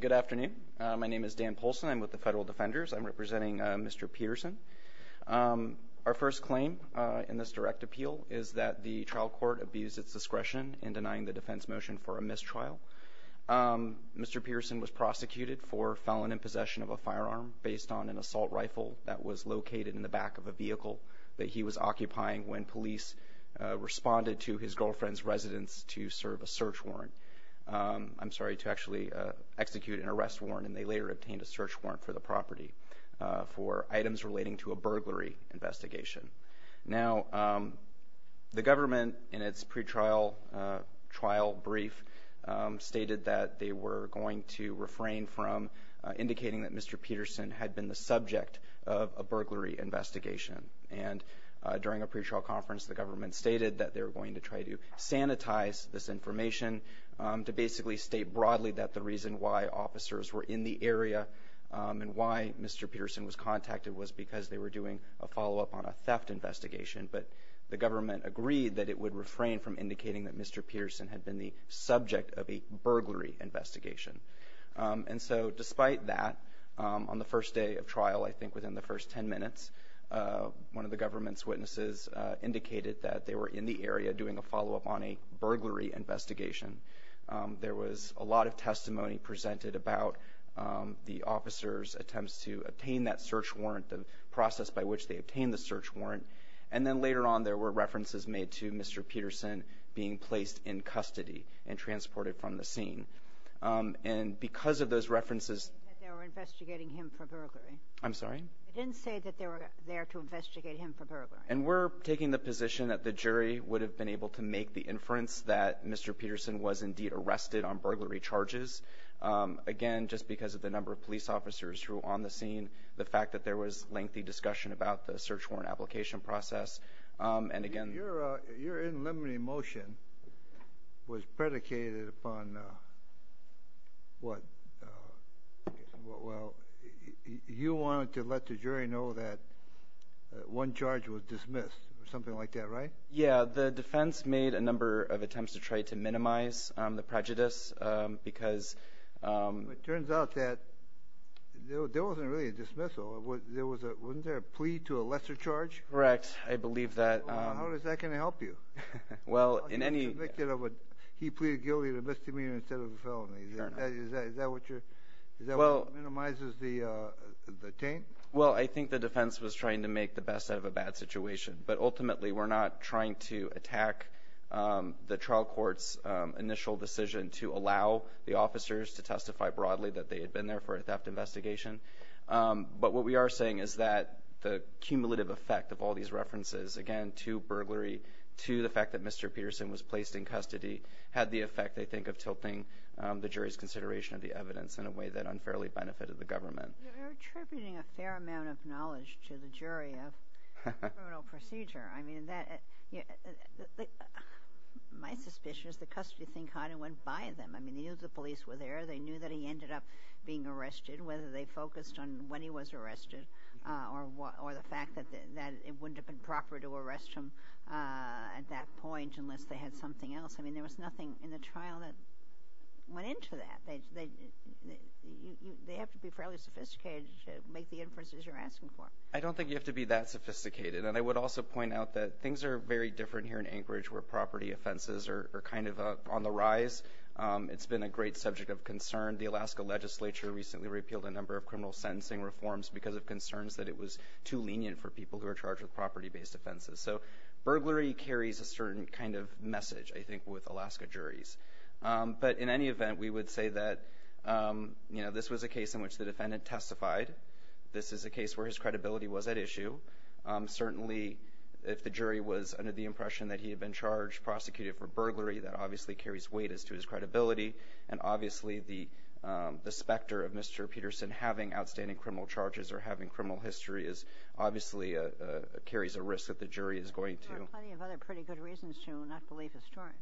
Good afternoon. My name is Dan Poulsen. I'm with the Federal Defenders. I'm representing Mr. Peterson. Our first claim in this direct appeal is that the trial court abused its discretion in denying the defense motion for a mistrial. Mr. Peterson was prosecuted for felon in possession of a firearm based on an assault rifle that was located in the back of a vehicle that he was occupying when police responded to his girlfriend's residence to serve a search warrant. I'm sorry, to actually execute an arrest warrant, and they later obtained a search warrant for the property for items relating to a burglary investigation. Now, the government, in its pretrial trial brief, stated that they were going to refrain from indicating that Mr. Peterson had been the subject of a burglary investigation. And during a pretrial conference, the government stated that they were going to try to sanitize this information to basically state broadly that the reason why officers were in the area and why Mr. Peterson was contacted was because they were doing a follow-up on a theft investigation. But the government agreed that it would refrain from indicating that Mr. Peterson had been the subject of a burglary investigation. And so despite that, on the first day of trial, I think within the first 10 minutes, one of the government's witnesses indicated that they were in the area doing a follow-up on a burglary investigation. There was a lot of testimony presented about the officers' attempts to obtain that search warrant, the process by which they obtained the search warrant. And then later on, there were references made to Mr. Peterson being placed in custody and transported from the scene. And because of those references — You didn't say that they were investigating him for burglary. I'm sorry? You didn't say that they were there to investigate him for burglary. And we're taking the position that the jury would have been able to make the inference that Mr. Peterson was indeed arrested on burglary charges, again, just because of the number of police officers who were on the scene, the fact that there was lengthy discussion about the search warrant application process. And again — Your in limine motion was predicated upon what? Well, you wanted to let the jury know that one charge was dismissed or something like that, right? Yeah. The defense made a number of attempts to try to minimize the prejudice because — It turns out that there wasn't really a dismissal. Wasn't there a plea to a lesser charge? Correct. I believe that — How is that going to help you? Well, in any — He pleaded guilty to misdemeanor instead of a felony. Is that what you're — Is that what minimizes the taint? Well, I think the defense was trying to make the best out of a bad situation. But ultimately, we're not trying to attack the trial court's initial decision to allow the officers to testify broadly that they had been there for a theft investigation. But what we are saying is that the cumulative effect of all these references, again, to burglary, to the fact that Mr. Peterson was placed in custody, had the effect, I think, of tilting the jury's consideration of the evidence in a way that unfairly benefited the government. You're attributing a fair amount of knowledge to the jury of criminal procedure. I mean, that — My suspicion is the custody thing kind of went by them. I mean, they knew the police were there. They knew that he ended up being arrested, whether they focused on when he was arrested or the fact that it wouldn't have been proper to arrest him at that point unless they had something else. I mean, there was nothing in the trial that went into that. They have to be fairly sophisticated to make the inferences you're asking for. I don't think you have to be that sophisticated. And I would also point out that things are very different here in Anchorage where property offenses are kind of on the rise. It's been a great subject of concern. The Alaska legislature recently repealed a number of criminal sentencing reforms because of concerns that it was too lenient for people who are charged with property-based offenses. So burglary carries a certain kind of message, I think, with Alaska juries. But in any event, we would say that this was a case in which the defendant testified. This is a case where his credibility was at issue. Certainly, if the jury was under the impression that he had been charged, prosecuted for burglary, that obviously carries weight as to his credibility, and obviously the specter of Mr. Peterson having outstanding criminal charges or having criminal history obviously carries a risk that the jury is going to. There are plenty of other pretty good reasons to not believe the story.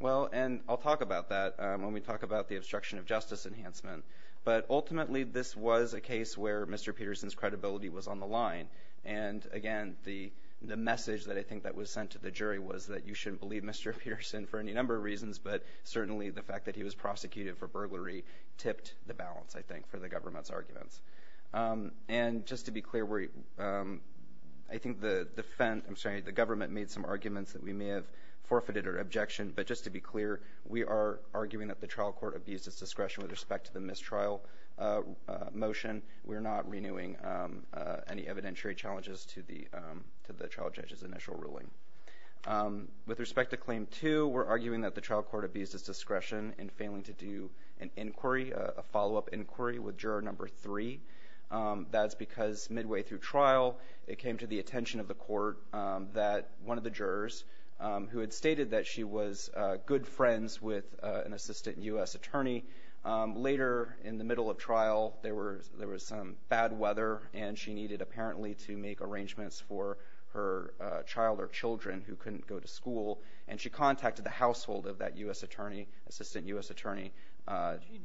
Well, and I'll talk about that when we talk about the obstruction of justice enhancement. But ultimately, this was a case where Mr. Peterson's credibility was on the line. And, again, the message that I think that was sent to the jury was that you shouldn't believe Mr. Peterson for any number of reasons, but certainly the fact that he was prosecuted for burglary tipped the balance, I think, for the government's arguments. And just to be clear, I think the government made some arguments that we may have forfeited or objected. But just to be clear, we are arguing that the trial court abused its discretion with respect to the mistrial motion. We're not renewing any evidentiary challenges to the trial judge's initial ruling. With respect to Claim 2, we're arguing that the trial court abused its discretion in failing to do an inquiry, a follow-up inquiry, with Juror Number 3. That's because midway through trial it came to the attention of the court that one of the jurors, who had stated that she was good friends with an assistant U.S. attorney, later in the middle of trial there was some bad weather and she needed apparently to make arrangements for her child or children who couldn't go to school. And she contacted the household of that U.S. attorney, assistant U.S. attorney.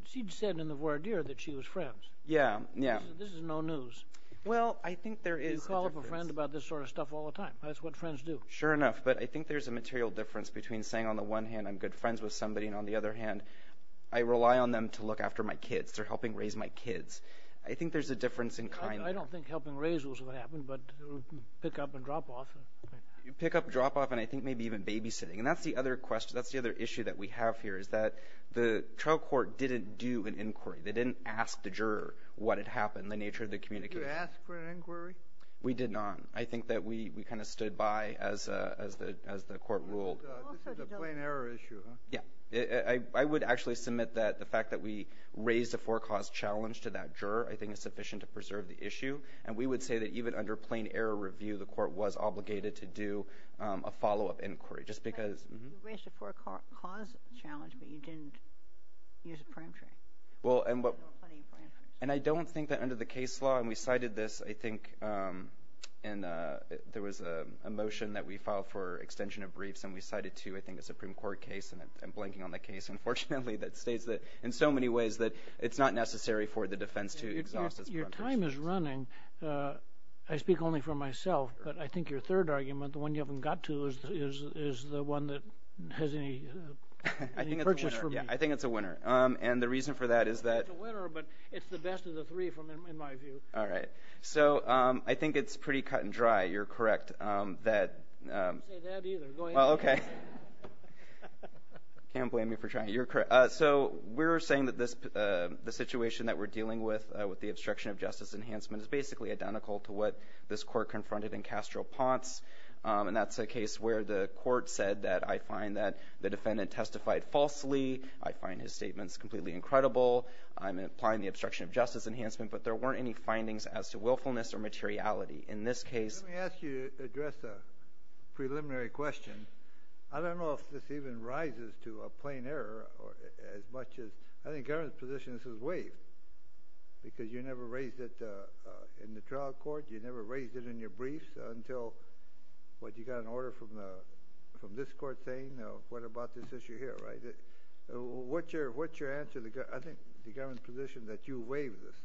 She said in the voir dire that she was friends. Yeah, yeah. This is no news. Well, I think there is a difference. You call up a friend about this sort of stuff all the time. That's what friends do. Sure enough. But I think there's a material difference between saying on the one hand I'm good friends with somebody and on the other hand I rely on them to look after my kids. They're helping raise my kids. I think there's a difference in kind. I don't think helping raise those would happen, but pick up and drop off. You pick up and drop off and I think maybe even babysitting. And that's the other question. That's the other issue that we have here is that the trial court didn't do an inquiry. They didn't ask the juror what had happened, the nature of the communication. Did you ask for an inquiry? We did not. I think that we kind of stood by as the court ruled. This is a plain error issue, huh? Yeah. I would actually submit that the fact that we raised a forecaused challenge to that juror I think is sufficient to preserve the issue. And we would say that even under plain error review the court was obligated to do a follow-up inquiry just because. You raised a forecaused challenge, but you didn't use a peremptory. Well, and I don't think that under the case law, and we cited this, I think, and there was a motion that we filed for extension of briefs and we cited two, I think, a Supreme Court case and I'm blanking on the case, unfortunately, that states that in so many ways that it's not necessary for the defense to exhaust its premises. Your time is running. I speak only for myself, but I think your third argument, the one you haven't got to, is the one that has any purchase for me. I think it's a winner. And the reason for that is that. It's a winner, but it's the best of the three in my view. All right. So I think it's pretty cut and dry. You're correct that. I didn't say that either. Well, okay. You can't blame me for trying. You're correct. So we're saying that the situation that we're dealing with, with the obstruction of justice enhancement, is basically identical to what this court confronted in Castro Ponce. And that's a case where the court said that I find that the defendant testified falsely. I find his statements completely incredible. I'm implying the obstruction of justice enhancement, but there weren't any findings as to willfulness or materiality. In this case. Let me ask you to address a preliminary question. I don't know if this even rises to a plain error as much as... I think Governor's position is that this is waived because you never raised it in the trial court. You never raised it in your briefs until what you got an order from this court saying. What about this issue here, right? What's your answer? I think the Governor's position is that you waived this.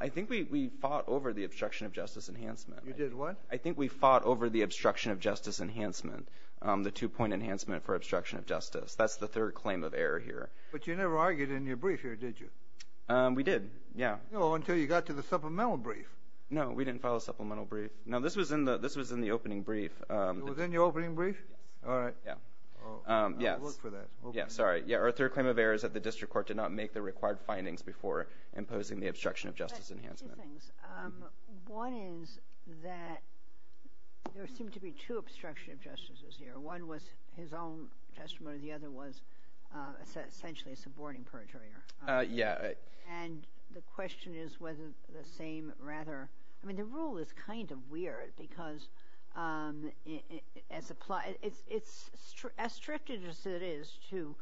I think we fought over the obstruction of justice enhancement. You did what? I think we fought over the obstruction of justice enhancement, the two-point enhancement for obstruction of justice. That's the third claim of error here. But you never argued in your brief here, did you? We did, yeah. No, until you got to the supplemental brief. No, we didn't file a supplemental brief. No, this was in the opening brief. It was in your opening brief? Yes. All right. I'll look for that. Sorry. Our third claim of error is that the district court did not make the required findings before imposing the obstruction of justice enhancement. Two things. One is that there seemed to be two obstruction of justices here. One was his own testimony. The other was essentially a subordinating perjurer. Yeah. And the question is whether the same rather... As strict as it is to,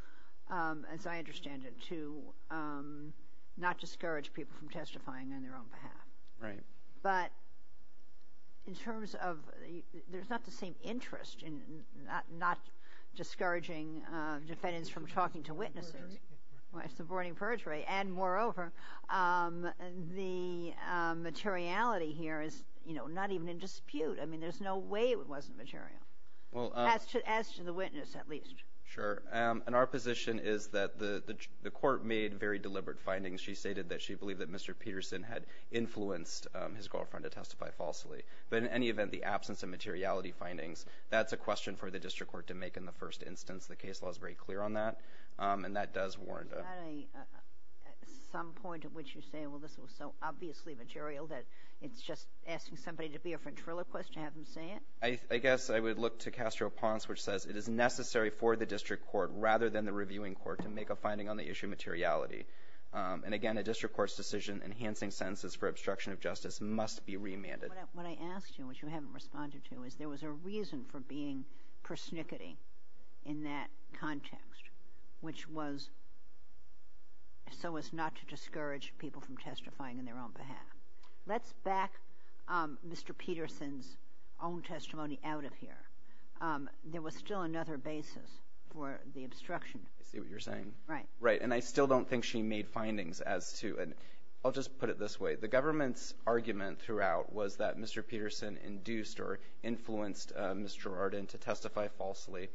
as I understand it, to not discourage people from testifying on their own behalf. Right. But in terms of there's not the same interest in not discouraging defendants from talking to witnesses. Subordinating perjury. Subordinating perjury. And, moreover, the materiality here is, you know, not even in dispute. I mean, there's no way it wasn't material. Well... As to the witness, at least. Sure. And our position is that the court made very deliberate findings. She stated that she believed that Mr. Peterson had influenced his girlfriend to testify falsely. But in any event, the absence of materiality findings, that's a question for the district court to make in the first instance. The case law is very clear on that. And that does warrant a... Is there not some point at which you say, well, this was so obviously material that it's just asking somebody to be a ventriloquist to have them say it? I guess I would look to Castro-Ponce, which says it is necessary for the district court, rather than the reviewing court, to make a finding on the issue of materiality. And, again, a district court's decision enhancing sentences for obstruction of justice must be remanded. What I asked you, which you haven't responded to, is there was a reason for being persnickety in that context, which was so as not to discourage people from testifying on their own behalf. Let's back Mr. Peterson's own testimony out of here. There was still another basis for the obstruction. I see what you're saying. Right. Right. And I still don't think she made findings as to... I'll just put it this way. The government's argument throughout was that Mr. Peterson induced or influenced Ms. Girardin to testify falsely.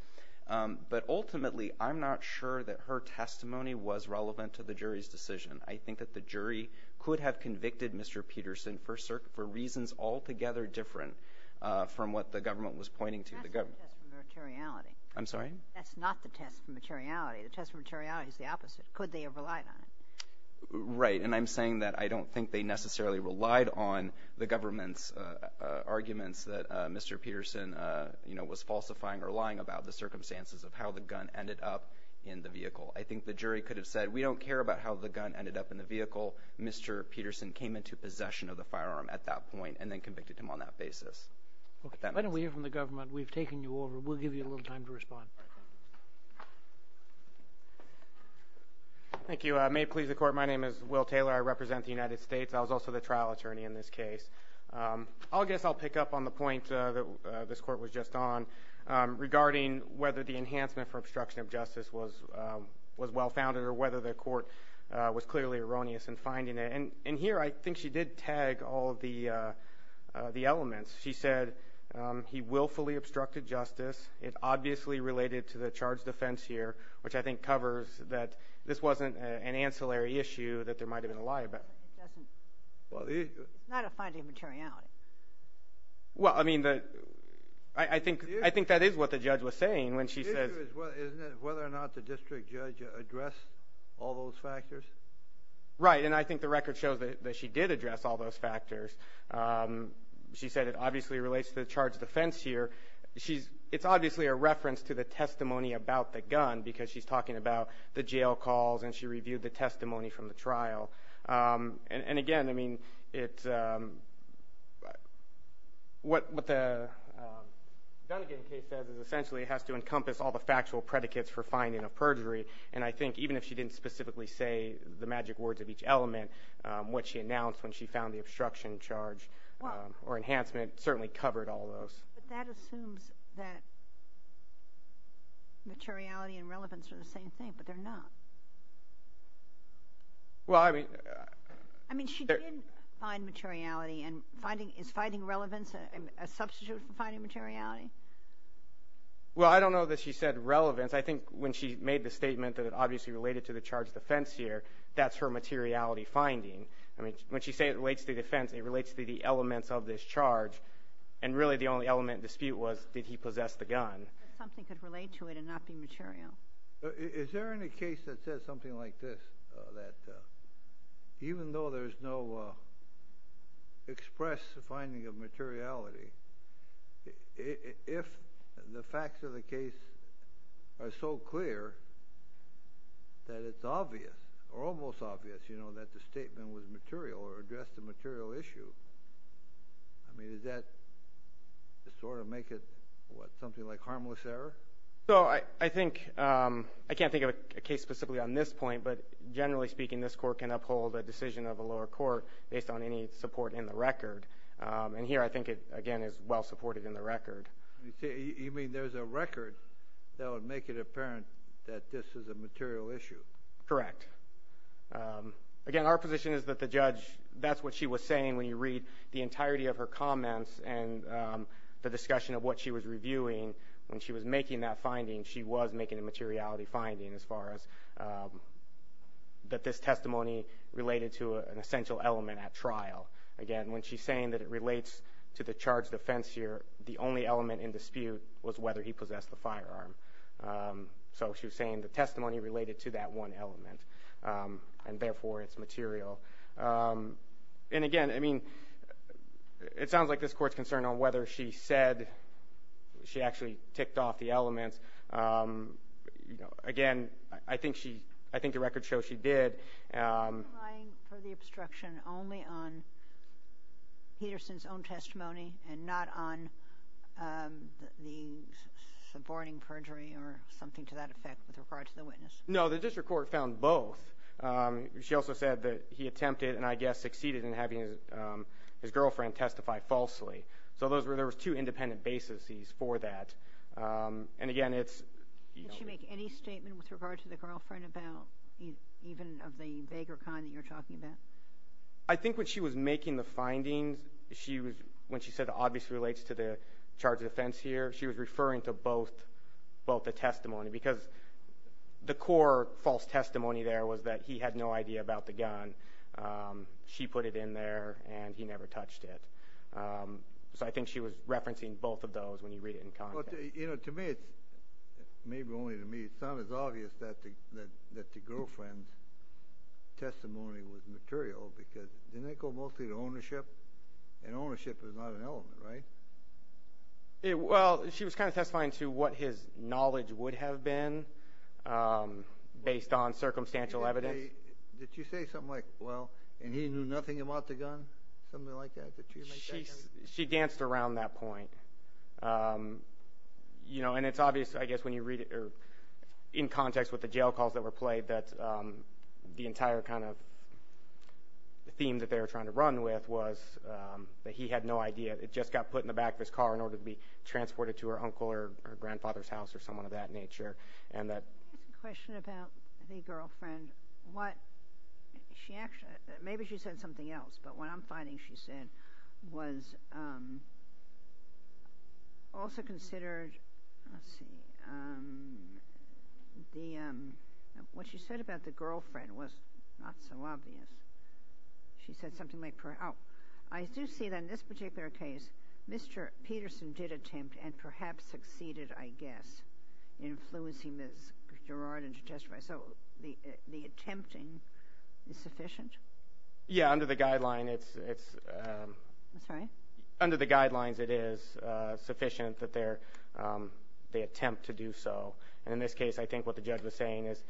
But, ultimately, I'm not sure that her testimony was relevant to the jury's decision. I think that the jury could have convicted Mr. Peterson for reasons altogether different from what the government was pointing to. That's not the test for materiality. I'm sorry? That's not the test for materiality. The test for materiality is the opposite. Could they have relied on it? Right. And I'm saying that I don't think they necessarily relied on the government's arguments that Mr. Peterson, you know, was falsifying or lying about the circumstances of how the gun ended up in the vehicle. I think the jury could have said, we don't care about how the gun ended up in the vehicle. Mr. Peterson came into possession of the firearm at that point and then convicted him on that basis. Why don't we hear from the government? We've taken you over. We'll give you a little time to respond. Thank you. May it please the Court, my name is Will Taylor. I represent the United States. I was also the trial attorney in this case. I guess I'll pick up on the point that this Court was just on regarding whether the enhancement for obstruction of justice was well-founded or whether the Court was clearly erroneous in finding it. And here I think she did tag all of the elements. She said he willfully obstructed justice. It obviously related to the charged offense here, which I think covers that this wasn't an ancillary issue that there might have been a lie about. It's not a finding of materiality. Well, I mean, I think that is what the judge was saying when she said – The issue is whether or not the district judge addressed all those factors. Right, and I think the record shows that she did address all those factors. She said it obviously relates to the charged offense here. It's obviously a reference to the testimony about the gun because she's talking about the jail calls and she reviewed the testimony from the trial. And again, I mean, what the Dunnegan case says is essentially it has to encompass all the factual predicates for finding of perjury. And I think even if she didn't specifically say the magic words of each element, what she announced when she found the obstruction charge or enhancement certainly covered all those. But that assumes that materiality and relevance are the same thing, but they're not. Well, I mean – I mean, she didn't find materiality, and is finding relevance a substitute for finding materiality? Well, I don't know that she said relevance. I think when she made the statement that it obviously related to the charged offense here, that's her materiality finding. I mean, when she said it relates to the offense, it relates to the elements of this charge, and really the only element of dispute was did he possess the gun. Something could relate to it and not be material. Is there any case that says something like this, that even though there's no express finding of materiality, if the facts of the case are so clear that it's obvious or almost obvious, you know, that the statement was material or addressed a material issue, I mean, does that sort of make it, what, something like harmless error? So I think – I can't think of a case specifically on this point, but generally speaking, this Court can uphold a decision of a lower court based on any support in the record. And here I think it, again, is well supported in the record. You mean there's a record that would make it apparent that this is a material issue? Correct. Again, our position is that the judge – that's what she was saying when you read the entirety of her comments and the discussion of what she was reviewing, when she was making that finding, she was making a materiality finding as far as that this testimony related to an essential element at trial. Again, when she's saying that it relates to the charged offense here, the only element in dispute was whether he possessed the firearm. So she was saying the testimony related to that one element, and therefore it's material. And again, I mean, it sounds like this Court's concerned on whether she said she actually ticked off the elements. Again, I think she – I think the record shows she did. Are you relying for the obstruction only on Peterson's own testimony and not on the suborning perjury or something to that effect with regard to the witness? No, the district court found both. She also said that he attempted and, I guess, succeeded in having his girlfriend testify falsely. So there was two independent bases for that. And again, it's – Did she make any statement with regard to the girlfriend about – even of the vaguer kind that you're talking about? I think when she was making the findings, when she said it obviously relates to the charged offense here, she was referring to both the testimony because the core false testimony there was that he had no idea about the gun. She put it in there, and he never touched it. So I think she was referencing both of those when you read it in context. To me, it's – maybe only to me, it sounds obvious that the girlfriend's testimony was material because didn't it go mostly to ownership? And ownership is not an element, right? Well, she was kind of testifying to what his knowledge would have been based on circumstantial evidence. Did she say something like, well, and he knew nothing about the gun, something like that? Did she make that kind of – She danced around that point. And it's obvious, I guess, when you read it in context with the jail calls that were played, that the entire kind of theme that they were trying to run with was that he had no idea. It just got put in the back of his car in order to be transported to her uncle or her grandfather's house or someone of that nature. Let me ask a question about the girlfriend. What – maybe she said something else, but what I'm finding she said was also considered – let's see. What she said about the girlfriend was not so obvious. She said something like – Now, I do see that in this particular case, Mr. Peterson did attempt and perhaps succeeded, I guess, in influencing Ms. Girardin to testify. So the attempting is sufficient? Yeah, under the guideline, it's – I'm sorry? Under the guidelines, it is sufficient that they attempt to do so. And in this case, I think what the judge was saying is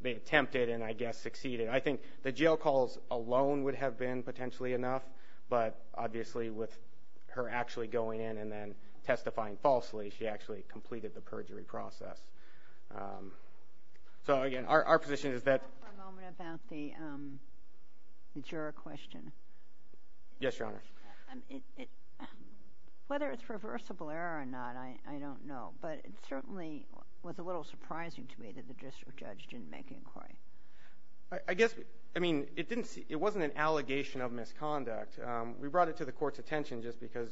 they attempted and I guess succeeded. I think the jail calls alone would have been potentially enough, but obviously with her actually going in and then testifying falsely, she actually completed the perjury process. So, again, our position is that – Can I talk for a moment about the juror question? Yes, Your Honor. Whether it's reversible error or not, I don't know, but it certainly was a little surprising to me that the district judge didn't make an inquiry. I guess – I mean, it didn't – it wasn't an allegation of misconduct. We brought it to the Court's attention just because,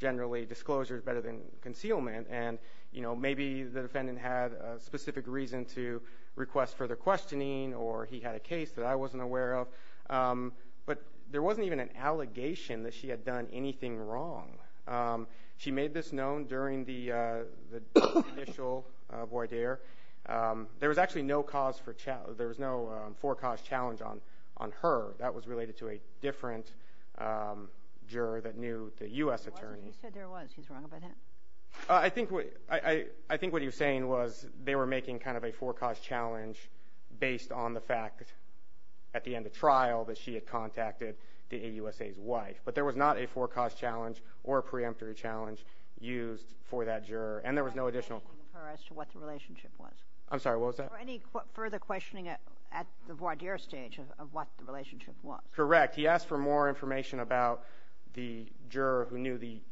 generally, disclosure is better than concealment. And, you know, maybe the defendant had a specific reason to request further questioning or he had a case that I wasn't aware of. But there wasn't even an allegation that she had done anything wrong. She made this known during the initial voir dire. There was actually no cause for – there was no forecast challenge on her. That was related to a different juror that knew the U.S. attorney. He said there was. He's wrong about that? I think what he was saying was they were making kind of a forecast challenge based on the fact at the end of trial that she had contacted the AUSA's wife. But there was not a forecast challenge or a preemptory challenge used for that juror. And there was no additional – I'm not asking her as to what the relationship was. I'm sorry. What was that? Or any further questioning at the voir dire stage of what the relationship was. Correct. He asked for more information about the juror who knew the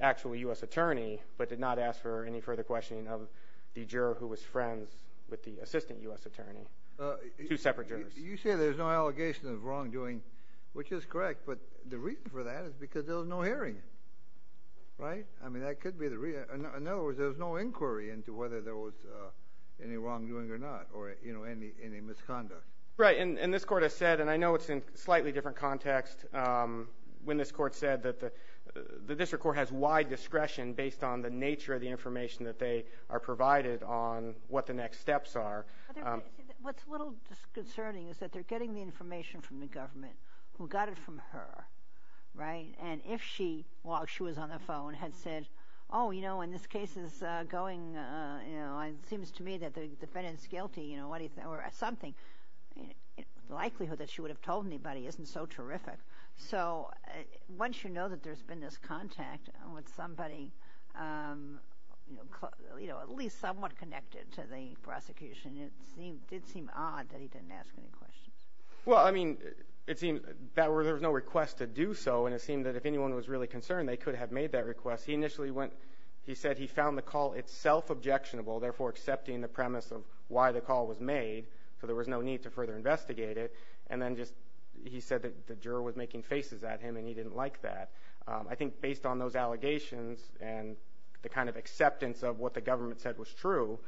actual U.S. attorney but did not ask for any further questioning of the juror who was friends with the assistant U.S. attorney. Two separate jurors. You say there's no allegation of wrongdoing, which is correct. But the reason for that is because there was no hearing, right? I mean, that could be the reason. In other words, there was no inquiry into whether there was any wrongdoing or not or any misconduct. Right. And this Court has said, and I know it's in a slightly different context, when this Court said that the district court has wide discretion based on the nature of the information that they are provided on what the next steps are. What's a little disconcerting is that they're getting the information from the government who got it from her, right? And if she, while she was on the phone, had said, oh, you know, in this case it seems to me that the defendant's guilty or something, the likelihood that she would have told anybody isn't so terrific. So once you know that there's been this contact with somebody, at least somewhat connected to the prosecution, it did seem odd that he didn't ask any questions. Well, I mean, it seems that there was no request to do so, and it seemed that if anyone was really concerned they could have made that request. He initially went, he said he found the call itself objectionable, therefore accepting the premise of why the call was made, so there was no need to further investigate it, and then just he said that the juror was making faces at him and he didn't like that. I think based on those allegations and the kind of acceptance of what the government said was true,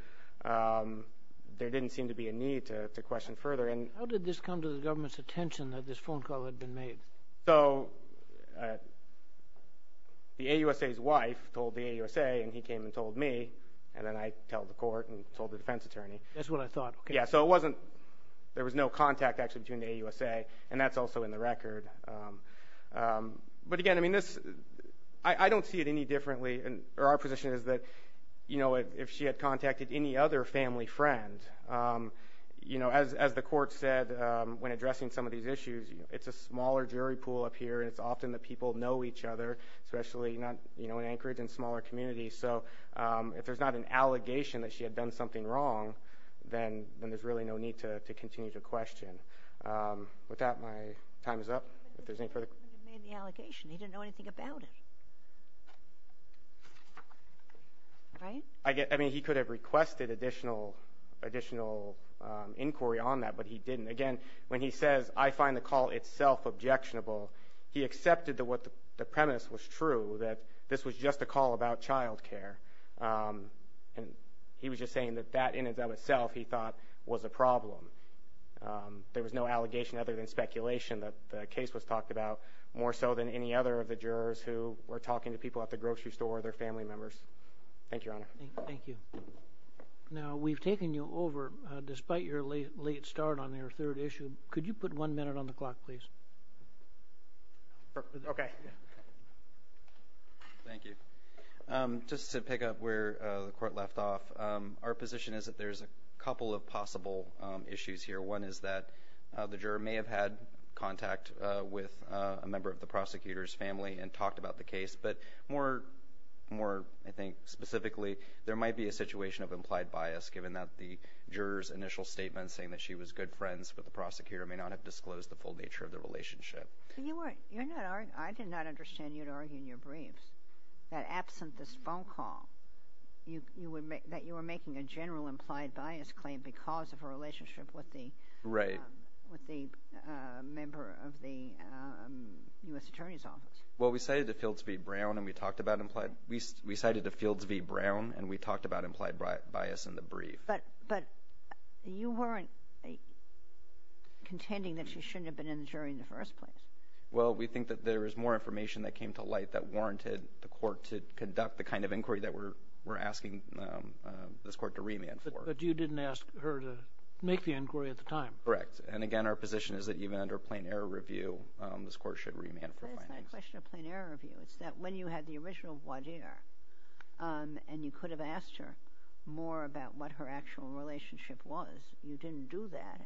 there didn't seem to be a need to question further. How did this come to the government's attention that this phone call had been made? So the AUSA's wife told the AUSA and he came and told me, and then I told the court and told the defense attorney. That's what I thought. Yeah, so it wasn't, there was no contact actually between the AUSA, and that's also in the record. But again, I mean, this, I don't see it any differently, or our position is that, you know, if she had contacted any other family friend, you know, as the court said when addressing some of these issues, it's a smaller jury pool up here and it's often that people know each other, especially, you know, in Anchorage and smaller communities. So if there's not an allegation that she had done something wrong, then there's really no need to continue to question. With that, my time is up. If there's any further questions. He made the allegation. He didn't know anything about it, right? I mean, he could have requested additional inquiry on that, but he didn't. Again, when he says, I find the call itself objectionable, he accepted that what the premise was true, that this was just a call about child care. And he was just saying that that in and of itself, he thought, was a problem. There was no allegation other than speculation that the case was talked about, more so than any other of the jurors who were talking to people at the grocery store, or their family members. Thank you, Your Honor. Thank you. Now, we've taken you over, despite your late start on your third issue. Could you put one minute on the clock, please? Okay. Thank you. Just to pick up where the court left off, our position is that there's a couple of possible issues here. One is that the juror may have had contact with a member of the prosecutor's family and talked about the case. But more, I think, specifically, there might be a situation of implied bias, given that the juror's initial statement, saying that she was good friends with the prosecutor, may not have disclosed the full nature of the relationship. I did not understand you at all in your briefs, that absent this phone call, that you were making a general implied bias claim Well, we cited the fields v. Brown, and we talked about implied bias in the brief. But you weren't contending that she shouldn't have been in the jury in the first place. Well, we think that there is more information that came to light that warranted the court to conduct the kind of inquiry that we're asking this court to remand for. But you didn't ask her to make the inquiry at the time. Correct. And, again, our position is that even under a plain error review, this court should remand for findings. That's not a question of plain error review. It's that when you had the original voir dire, and you could have asked her more about what her actual relationship was, you didn't do that.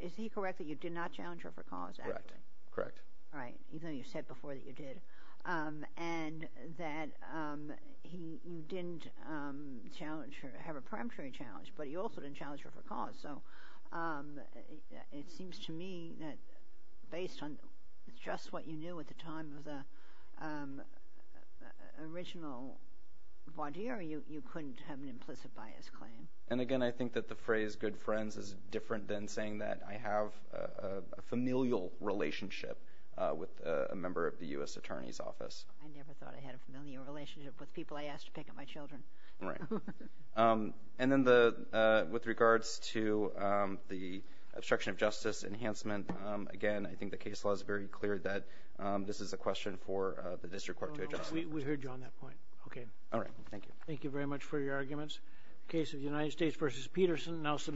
Is he correct that you did not challenge her for cause, actually? Correct. Right, even though you said before that you did. And that you didn't have a peremptory challenge, but you also didn't challenge her for cause. So it seems to me that based on just what you knew at the time of the original voir dire, you couldn't have an implicit bias claim. And, again, I think that the phrase good friends is different than saying that I have a familial relationship with a member of the U.S. Attorney's Office. I never thought I had a familial relationship with people I asked to pick up my children. Right. And then with regards to the obstruction of justice enhancement, again, I think the case law is very clear that this is a question for the district court to address. We heard you on that point. Okay. All right. Thank you. Thank you very much for your arguments.